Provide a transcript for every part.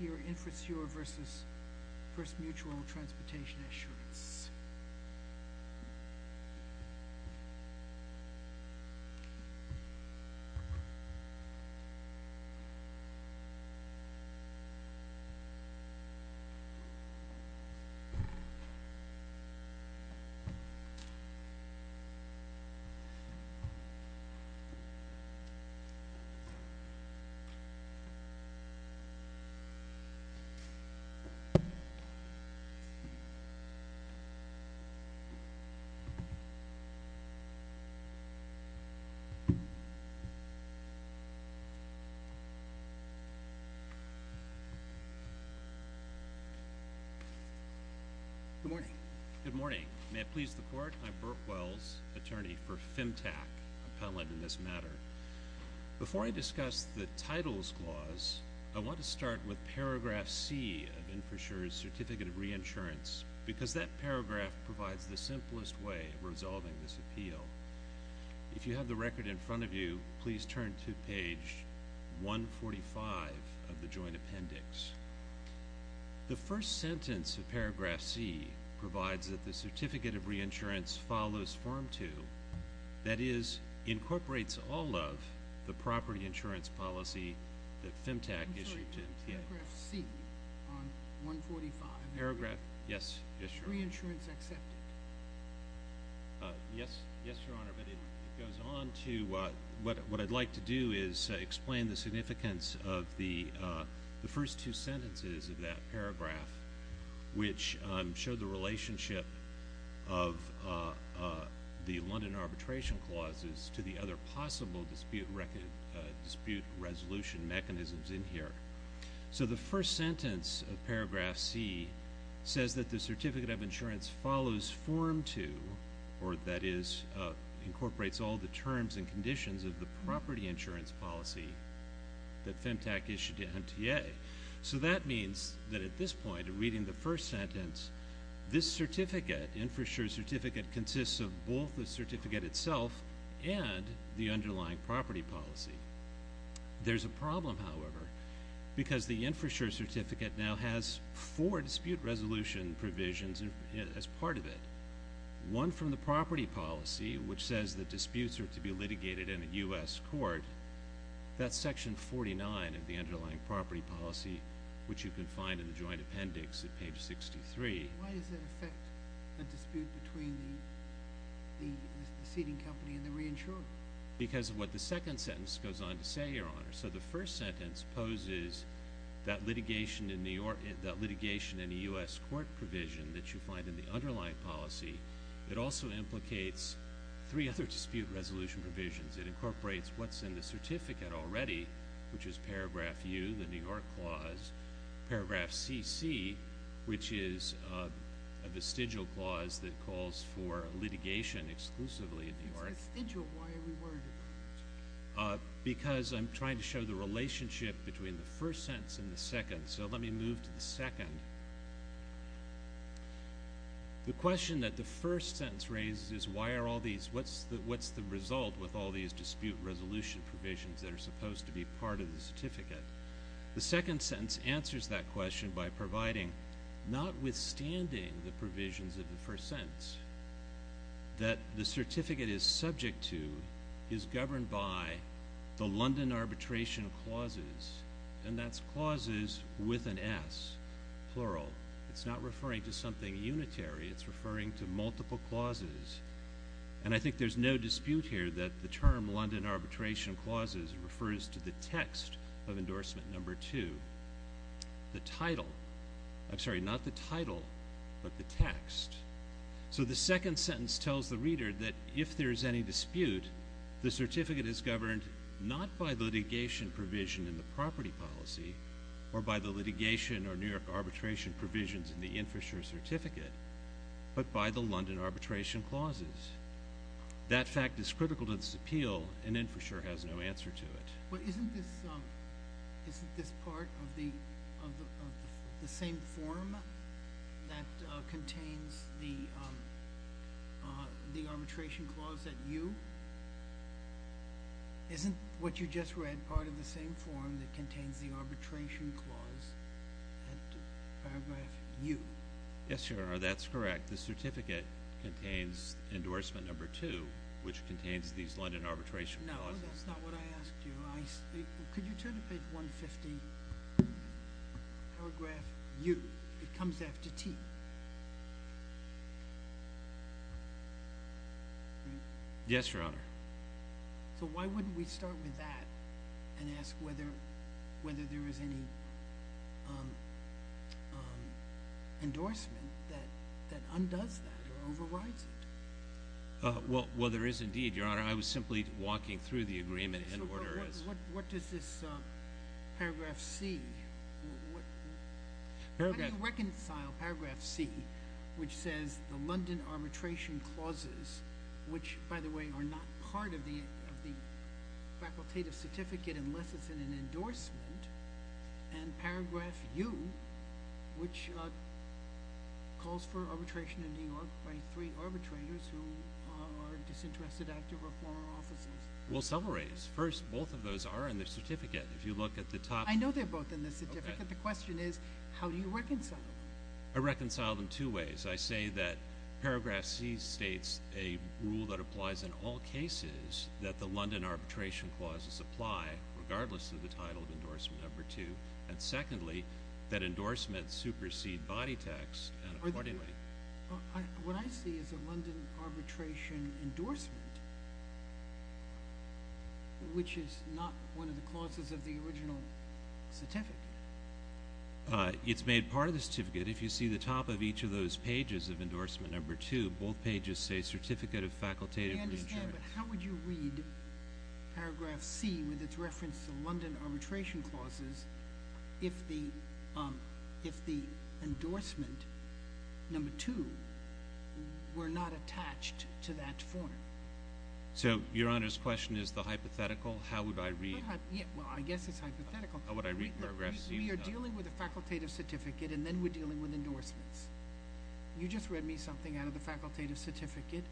Here, Infrassure v. First Mutual Transportation Assurance. Good morning. May it please the court, I'm Burke Wells, attorney for FemTAC, appellant in this matter. Before I discuss the Titles Clause, I want to start with paragraph C of Infrassure's Certificate of Reinsurance because that paragraph provides the simplest way of resolving this appeal. If you have the record in front of you, please turn to page 145 of the joint appendix. The first sentence of paragraph C provides that the of the property insurance policy that FemTAC issued to MTA. What I'd like to do is explain the significance of the first two sentences of that paragraph, which show the relationship of the London Arbitration Clauses to the other possible dispute resolution mechanisms in here. The first sentence of paragraph C says that the Certificate of Insurance follows Form 2, or that is, incorporates all the terms and conditions of the property insurance policy that FemTAC issued to MTA. That means that at this point, reading the first sentence, this certificate, Infrassure's Certificate, consists of both the certificate itself and the underlying property policy. There's a problem, however, because the Infrassure Certificate now has four dispute resolution provisions as part of it. One from the property policy, which says that disputes are to be litigated in a U.S. court, that's section 49 of the Why does that affect the dispute between the ceding company and the reinsurer? Because of what the second sentence goes on to say, Your Honor. So the first sentence poses that litigation in a U.S. court provision that you find in the underlying policy. It also implicates three other dispute resolution provisions. It incorporates what's in the vestigial clause that calls for litigation exclusively in the U.S. It's vestigial. Why are we worried about that? Because I'm trying to show the relationship between the first sentence and the second. So let me move to the second. The question that the first sentence raises is, What's the result with all these dispute resolution provisions that are supposed to be part of the certificate? The second sentence answers that question by providing, notwithstanding the provisions of the first sentence, that the certificate is subject to, is governed by the London Arbitration Clauses, and that's clauses with an S, plural. It's not referring to something unitary. It's referring to multiple clauses. And I think there's no dispute here that the term London Arbitration Clauses refers to the text of endorsement number two. The title. I'm sorry, not the title, but the text. So the second sentence tells the reader that if there is any dispute, the certificate is governed not by the litigation provision in the property policy, or by the litigation or New York arbitration provisions in the appeal, and then for sure has no answer to it. But isn't this part of the same form that contains the arbitration clause at U? Isn't what you just read part of the same form that contains the arbitration clause at paragraph U? Yes, Your Honor, that's correct. The certificate contains endorsement number two, which contains these London Arbitration Clauses. No, that's not what I asked you. Could you turn to page 150, paragraph U. It comes after T. Yes, Your Honor. So why wouldn't we start with that and ask whether there is any endorsement that undoes that or overrides it? Well, there is indeed, Your Honor. I was simply walking through the agreement. What does this paragraph C? How do you reconcile paragraph C, which says the London Arbitration Clauses, which, by the way, are not part of the facultative certificate unless it's in an disinterested act of reform or offices? Well, several ways. First, both of those are in the certificate. If you look at the top— I know they're both in the certificate. The question is, how do you reconcile them? I reconcile them two ways. I say that paragraph C states a rule that applies in all cases that the London Arbitration Clauses apply, regardless of the title of endorsement number two. And secondly, that endorsements supersede body text and accordingly— What I see is a London Arbitration Endorsement, which is not one of the clauses of the original certificate. It's made part of the certificate. If you see the top of each of those pages of endorsement number two, both pages say Certificate of Facultative Reinsurance. I understand, but how would you read paragraph C with its reference to London Arbitration Clauses if the endorsement number two were not attached to that form? So, Your Honor's question is the hypothetical? How would I read— Well, I guess it's hypothetical. How would I read paragraph C— We are dealing with a facultative certificate and then we're dealing with endorsements. You just read me something out of the facultative certificate,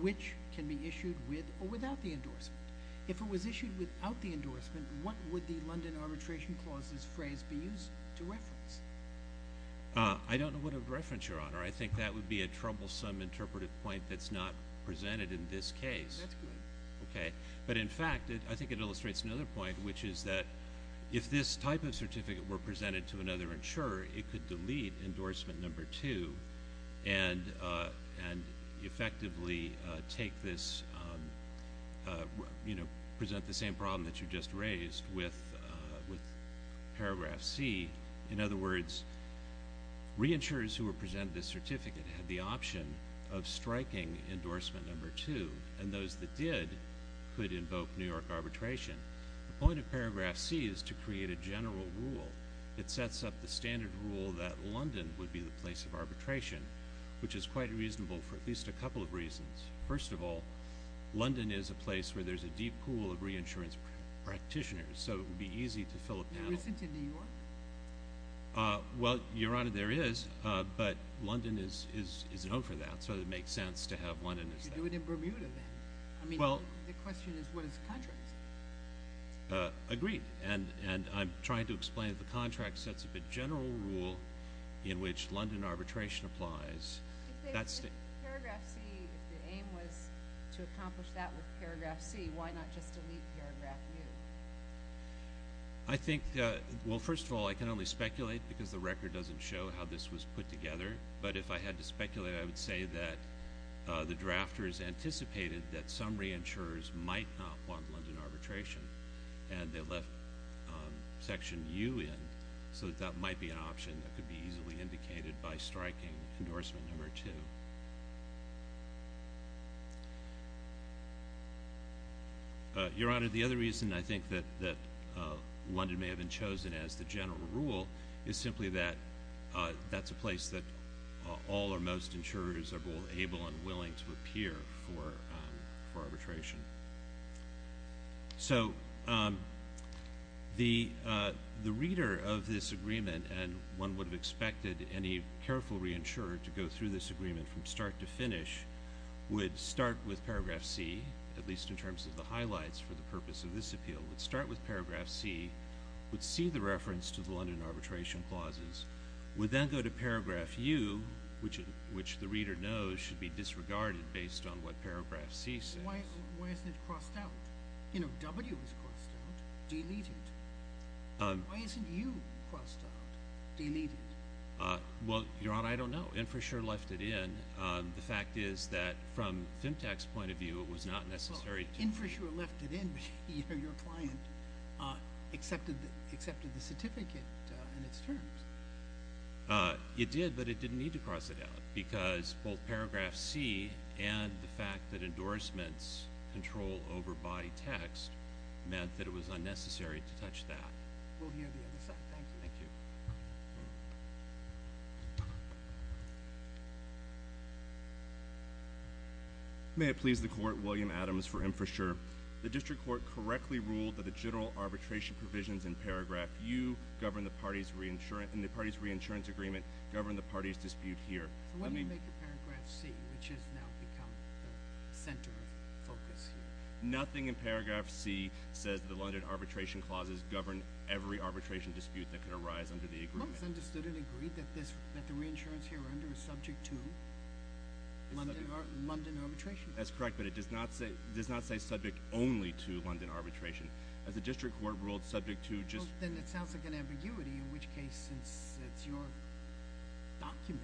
which can be issued with or without the endorsement. If it was issued without the endorsement, what would the London Arbitration Clauses phrase be used to reference? I don't know what it would reference, Your Honor. I think that would be a troublesome interpretive point that's not presented in this case. That's good. Okay. But in fact, I think it illustrates another point, which is that if this type of certificate were presented to another insurer, it could delete endorsement number two and effectively present the same problem that you just raised with paragraph C. In other words, reinsurers who were presented this certificate had the option of striking endorsement number two, and those that did could invoke New York arbitration. The point of paragraph C is to create a general rule that sets up the standard rule that London would be the place of arbitration, which is quite reasonable for at least a couple of reasons. First of all, London is a place where there's a deep pool of reinsurance practitioners, so it would be easy to fill a panel. There isn't in New York. Well, Your Honor, there is, but London is known for that, so it makes sense to have London as that. You do it in Bermuda then. I mean, the question is, what is the contract? Agreed, and I'm trying to explain that the contract sets up a general rule in which London arbitration applies. If paragraph C, if the aim was to accomplish that with paragraph C, why not just delete paragraph U? I think, well, first of all, I can only speculate because the record doesn't show how this was put together, but if I had to speculate, I would say that the drafters anticipated that some reinsurers might not want London arbitration, and they left section U in so that that might be an option that could be easily indicated by striking endorsement number two. Your Honor, the other reason I think that London may have been chosen as the general rule is simply that that's a place that all or most insurers are both able and willing to appear for arbitration. So the reader of this agreement, and one would have expected any careful reinsurer to go through this agreement from start to finish, would start with paragraph C, at least in terms of the highlights for the purpose of this appeal, would start with paragraph C, would see the reference to the London arbitration clauses, would then go to paragraph U, which the reader knows should be disregarded based on what paragraph C says. Why isn't it crossed out? You know, W is crossed out, deleted. Why isn't U crossed out, deleted? Well, Your Honor, I don't know. Infrasure left it in. The fact is that from Fintech's point of view, it was not necessary to— Infrasure left it in, but your client accepted the certificate and its terms. It did, but it didn't need to cross it out because both paragraph C and the fact that endorsements control over body text meant that it was unnecessary to touch that. We'll hear the other side. Thank you. Thank you. May it please the Court, William Adams for Infrasure. The district court correctly ruled that the general arbitration provisions in paragraph U govern the party's re-insurance—in the party's re-insurance agreement govern the party's dispute here. So what do you make of paragraph C, which has now become the center of focus here? Nothing in paragraph C says that the London arbitration clauses govern every arbitration dispute that could arise under the agreement. It looks understood and agreed that the re-insurance here under is subject to London arbitration. That's correct, but it does not say subject only to London arbitration. As the district court ruled, subject to just— It sounds like an ambiguity, in which case, since it's your document,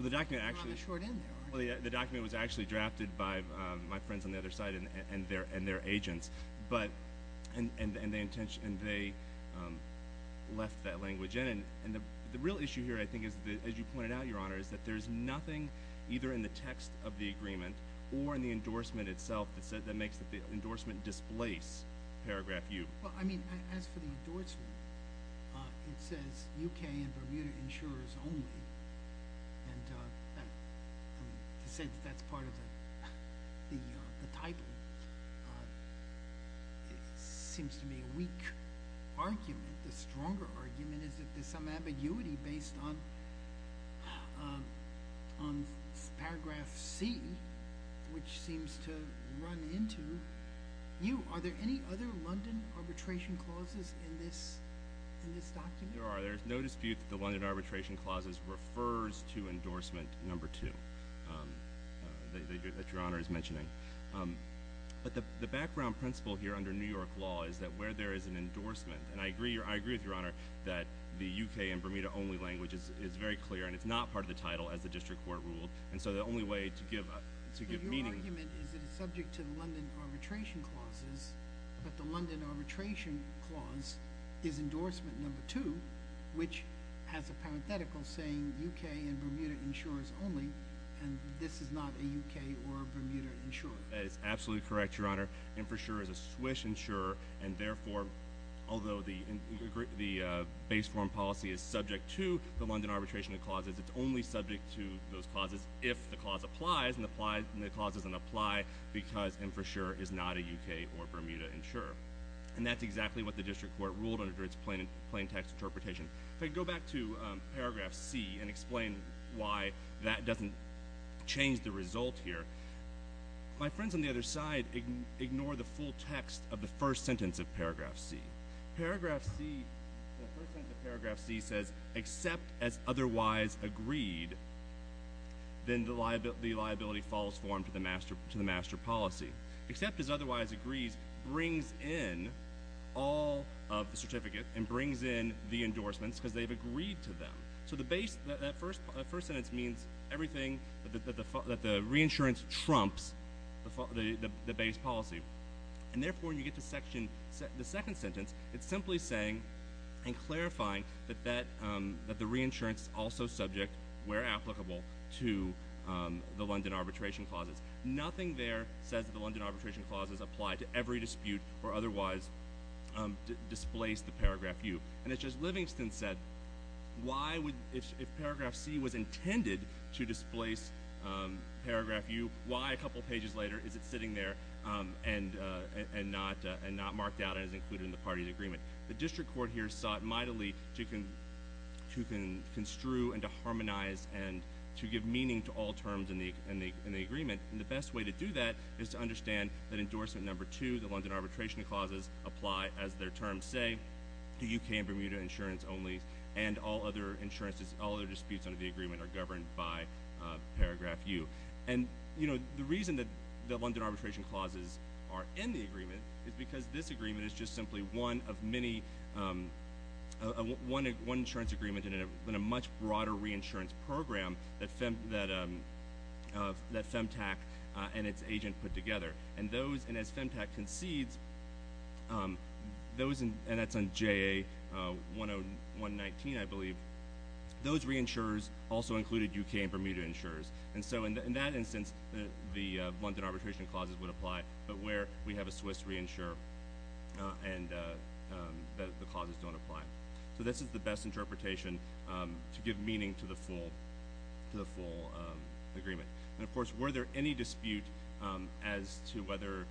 you're on the short end there, aren't you? The document was actually drafted by my friends on the other side and their agents, and they left that language in. And the real issue here, I think, as you pointed out, Your Honor, is that there's nothing either in the text of the agreement or in the endorsement itself that makes the endorsement displace paragraph U. Well, I mean, as for the endorsement, it says UK and Bermuda insurers only, and to say that that's part of the title seems to be a weak argument. The stronger argument is that there's some ambiguity based on paragraph C, which seems to run into U. Are there any other London arbitration clauses in this document? There are. There's no dispute that the London arbitration clauses refers to endorsement number two that Your Honor is mentioning. But the background principle here under New York law is that where there is an endorsement, and I agree with Your Honor that the UK and Bermuda only language is very clear, and it's not part of the title as the district court ruled, and so the only way to give meaning— But the London arbitration clause is endorsement number two, which has a parenthetical saying UK and Bermuda insurers only, and this is not a UK or Bermuda insurer. That is absolutely correct, Your Honor. Infrasure is a Swiss insurer, and therefore, although the base form policy is subject to the London arbitration clauses, it's only subject to those clauses if the clause applies, and the clause doesn't apply because infrasure is not a UK or Bermuda insurer. And that's exactly what the district court ruled under its plain text interpretation. If I go back to paragraph C and explain why that doesn't change the result here, my friends on the other side ignore the full text of the first sentence of paragraph C. Paragraph C, the first sentence of paragraph C says, except as otherwise agreed, then the liability falls for him to the master policy. Except as otherwise agrees brings in all of the certificate and brings in the endorsements because they've agreed to them. So that first sentence means everything that the reinsurance trumps the base policy, and therefore, when you get to the second sentence, it's simply saying and clarifying that the reinsurance is also subject, where applicable, to the London arbitration clauses. Nothing there says that the London arbitration clauses apply to every dispute or otherwise displace the paragraph U. And it's just Livingston said, if paragraph C was intended to displace paragraph U, why a couple pages later is it sitting there and not marked out as included in the party's agreement? The district court here sought mightily to construe and to harmonize and to give meaning to all terms in the agreement, and the best way to do that is to understand that endorsement number two, the London arbitration clauses, apply as their terms say to UK and Bermuda insurance only and all other insurances, all other disputes under the agreement are governed by paragraph U. And the reason that the London arbitration clauses are in the agreement is because this is one insurance agreement in a much broader reinsurance program that FEMTAC and its agent put together. And as FEMTAC concedes, and that's on JA10119, I believe, those reinsurers also included UK and Bermuda insurers. And so in that instance, the London arbitration clauses would apply, but where we have a Swiss reinsurer, and the clauses don't apply. So this is the best interpretation to give meaning to the full agreement. And of course, were there any dispute as to whether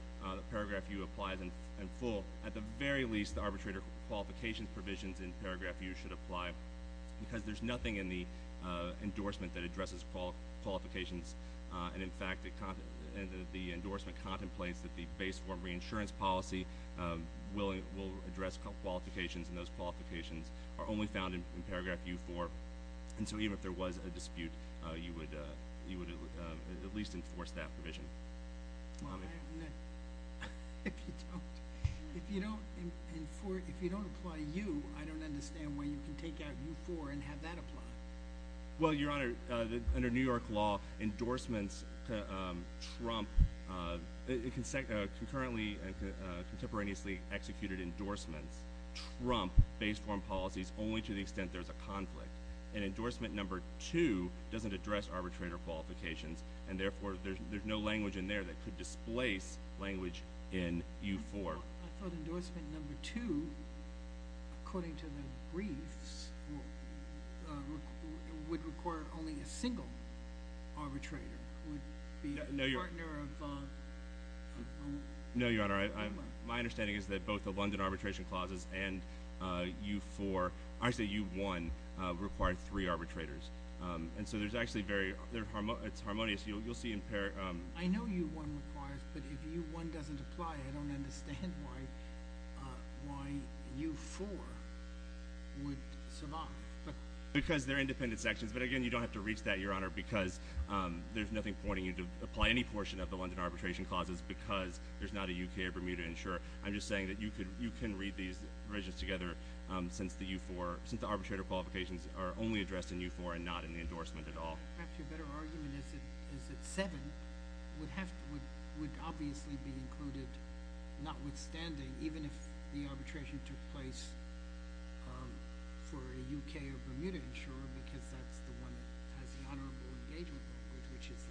paragraph U applies in full, at the very least, the arbitrator qualifications provisions in paragraph U should apply, because there's nothing in the endorsement that addresses qualifications. And in fact, the endorsement contemplates that the base form reinsurance policy will address qualifications, and those qualifications are only found in paragraph U4. And so even if there was a dispute, you would at least enforce that provision. If you don't apply U, I don't understand why you can take out U4 and have that apply. Well, Your Honor, under New York law, endorsements trump, concurrently and contemporaneously executed endorsements trump base form policies only to the extent there's a conflict. And endorsement number two doesn't address arbitrator qualifications, and therefore, there's no language in there that could displace language in U4. I thought endorsement number two, according to the briefs, would require only a single arbitrator. No, Your Honor, my understanding is that both the London arbitration clauses and U4, actually U1, require three arbitrators. And so there's actually very, it's harmonious. You'll see in paragraph— I know U1 requires, but if U1 doesn't apply, I don't understand why U4 would survive. Because they're independent sections. But again, you don't have to reach that, Your Honor, because there's nothing pointing you to apply any portion of the London arbitration clauses because there's not a UK or Bermuda insurer. I'm just saying that you can read these provisions together since the arbitrator qualifications are only addressed in U4 and not in the endorsement at all. Perhaps your better argument is that 7 would obviously be included, notwithstanding, even if the arbitration took place for a UK or Bermuda insurer, because that's the one that has the honorable engagement with, which is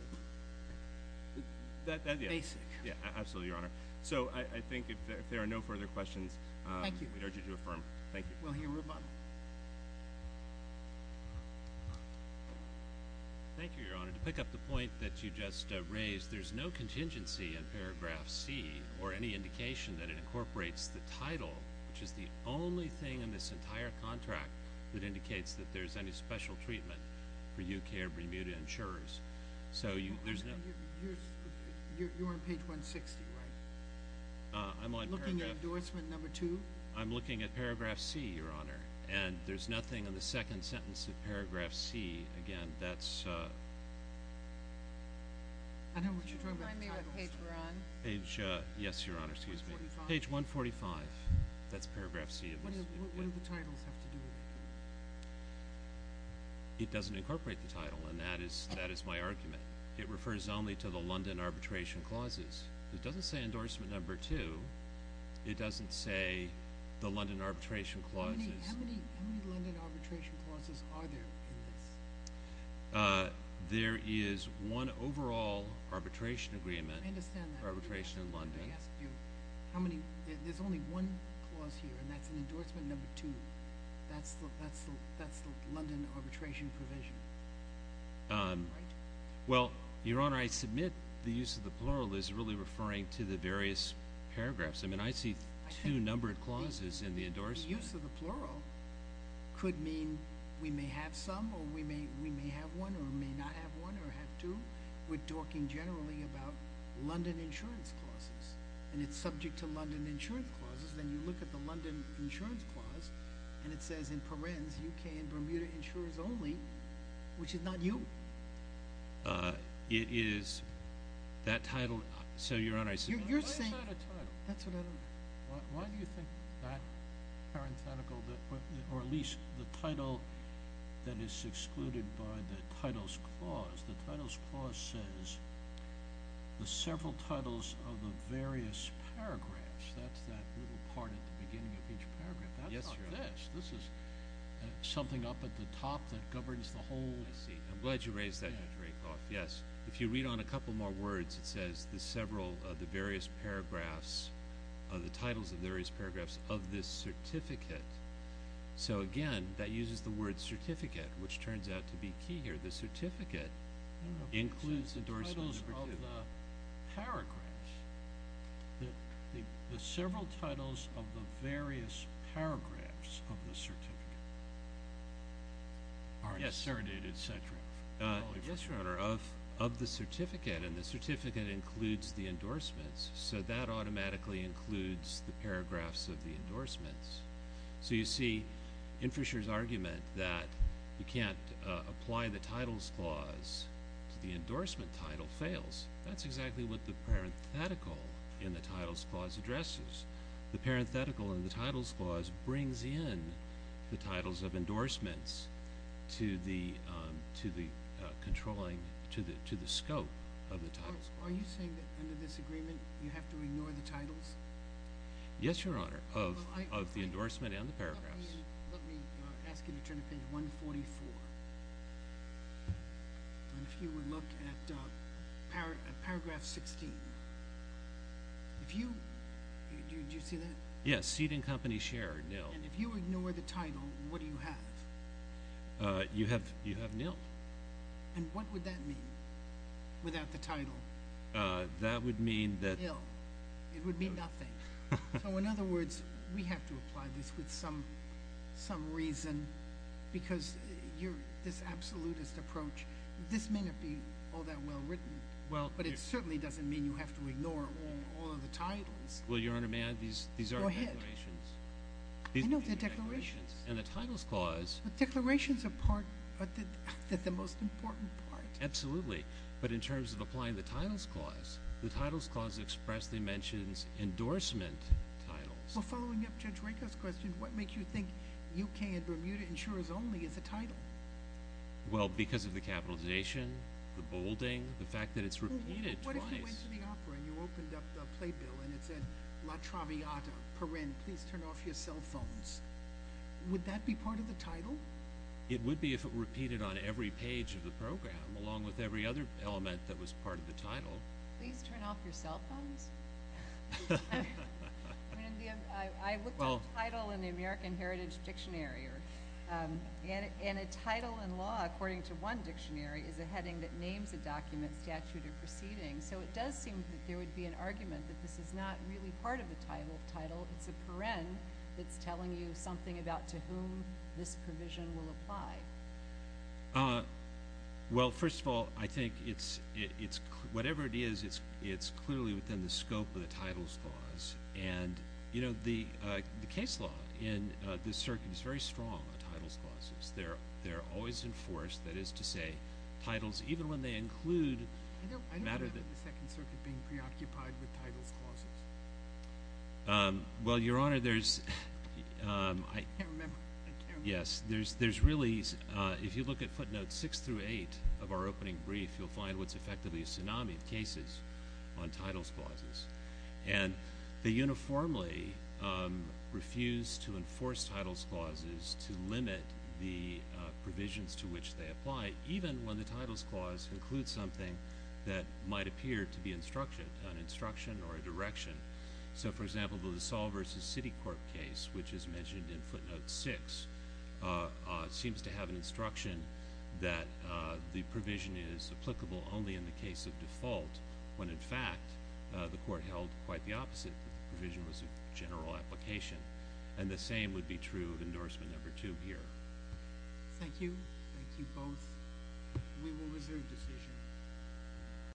the basic. Yeah, absolutely, Your Honor. So I think if there are no further questions— Thank you. —we'd urge you to affirm. Thank you. Well, here we are. Thank you, Your Honor. To pick up the point that you just raised, there's no contingency in paragraph C or any indication that it incorporates the title, which is the only thing in this entire contract that indicates that there's any special treatment for UK or Bermuda insurers. So there's no— You're on page 160, right? I'm on paragraph— Looking at endorsement number 2? I'm looking at paragraph C, Your Honor. And there's nothing in the second sentence of paragraph C. Again, that's— I don't know what you're talking about. Could you remind me what page we're on? Page— Yes, Your Honor, excuse me. Page 145. That's paragraph C. What do the titles have to do with it? It doesn't incorporate the title, and that is my argument. It refers only to the London arbitration clauses. It doesn't say endorsement number 2. It doesn't say the London arbitration clauses. How many London arbitration clauses are there in this? There is one overall arbitration agreement— I understand that. —arbitration in London. I asked you how many— There's only one clause here, and that's an endorsement number 2. That's the London arbitration provision, right? Well, Your Honor, I submit the use of the plural is really referring to the various paragraphs. I mean, I see two numbered clauses in the endorsement. Use of the plural could mean we may have some or we may have one or may not have one or have two. We're talking generally about London insurance clauses, and it's subject to London insurance clauses. Then you look at the London insurance clause, and it says, in parens, U.K. and Bermuda insurers only, which is not you. It is— That title— So, Your Honor, I submit— You're saying— Why is that a title? That's what I don't— Why do you think that parenthetical— Or at least the title that is excluded by the titles clause? The titles clause says the several titles of the various paragraphs. That's that little part at the beginning of each paragraph. That's not this. This is something up at the top that governs the whole— I see. I'm glad you raised that, Judge Rakoff. Yes. If you read on a couple more words, it says the several— the titles of the various paragraphs of this certificate. So, again, that uses the word certificate, which turns out to be key here. The certificate includes the endorsement of— I don't know if it says the titles of the paragraphs. The several titles of the various paragraphs of the certificate. Are inserted, et cetera. Yes, Your Honor, of the certificate, and the certificate includes the endorsements, so that automatically includes the paragraphs of the endorsements. So you see, in Fisher's argument that you can't apply the titles clause to the endorsement title fails, that's exactly what the parenthetical in the titles clause addresses. The parenthetical in the titles clause brings in the titles of endorsements to the controlling—to the scope of the titles. Are you saying that, under this agreement, you have to ignore the titles? Yes, Your Honor, of the endorsement and the paragraphs. Let me ask you to turn to page 144, and if you would look at paragraph 16. If you—did you see that? Yes, Seed and Company Share, nil. And if you ignore the title, what do you have? And what would that mean without the title? That would mean that— Nil. It would mean nothing. So, in other words, we have to apply this with some reason, because this absolutist approach, this may not be all that well written, but it certainly doesn't mean you have to ignore all of the titles. Well, Your Honor, may I— Go ahead. These are declarations. I know they're declarations. In the titles clause— But declarations are part—they're the most important part. Absolutely, but in terms of applying the titles clause, the titles clause expressly mentions endorsement titles. Well, following up Judge Raker's question, what makes you think U.K. and Bermuda insurers only is a title? Well, because of the capitalization, the bolding, the fact that it's repeated twice. Well, what if you went to the opera and you opened up the playbill and it said, La Traviata, Paren, please turn off your cell phones. Would that be part of the title? It would be if it repeated on every page of the program, along with every other element that was part of the title. Please turn off your cell phones? I looked up title in the American Heritage Dictionary, and a title in law, according to one dictionary, is a heading that names a document, statute, or proceeding. So it does seem that there would be an argument that this is not really part of the title. It's a paren that's telling you something about to whom this provision will apply. Well, first of all, I think it's, whatever it is, it's clearly within the scope of the titles clause. And, you know, the case law in this circuit is very strong on titles clauses. They're always enforced, that is to say, titles, even when they include a matter that— I don't have the Second Circuit being preoccupied with titles clauses. Well, Your Honor, there's— Yes, there's really, if you look at footnotes 6 through 8 of our opening brief, you'll find what's effectively a tsunami of cases on titles clauses. And they uniformly refuse to enforce titles clauses to limit the provisions to which they apply, even when the titles clause includes something that might appear to be instruction, an instruction or a direction. So, for example, the LaSalle v. City Court case, which is mentioned in footnote 6, seems to have an instruction that the provision is applicable only in the case of default, when, in fact, the court held quite the opposite, that the provision was a general application. And the same would be true of endorsement number 2 here. Thank you. Thank you both. We will reserve decision.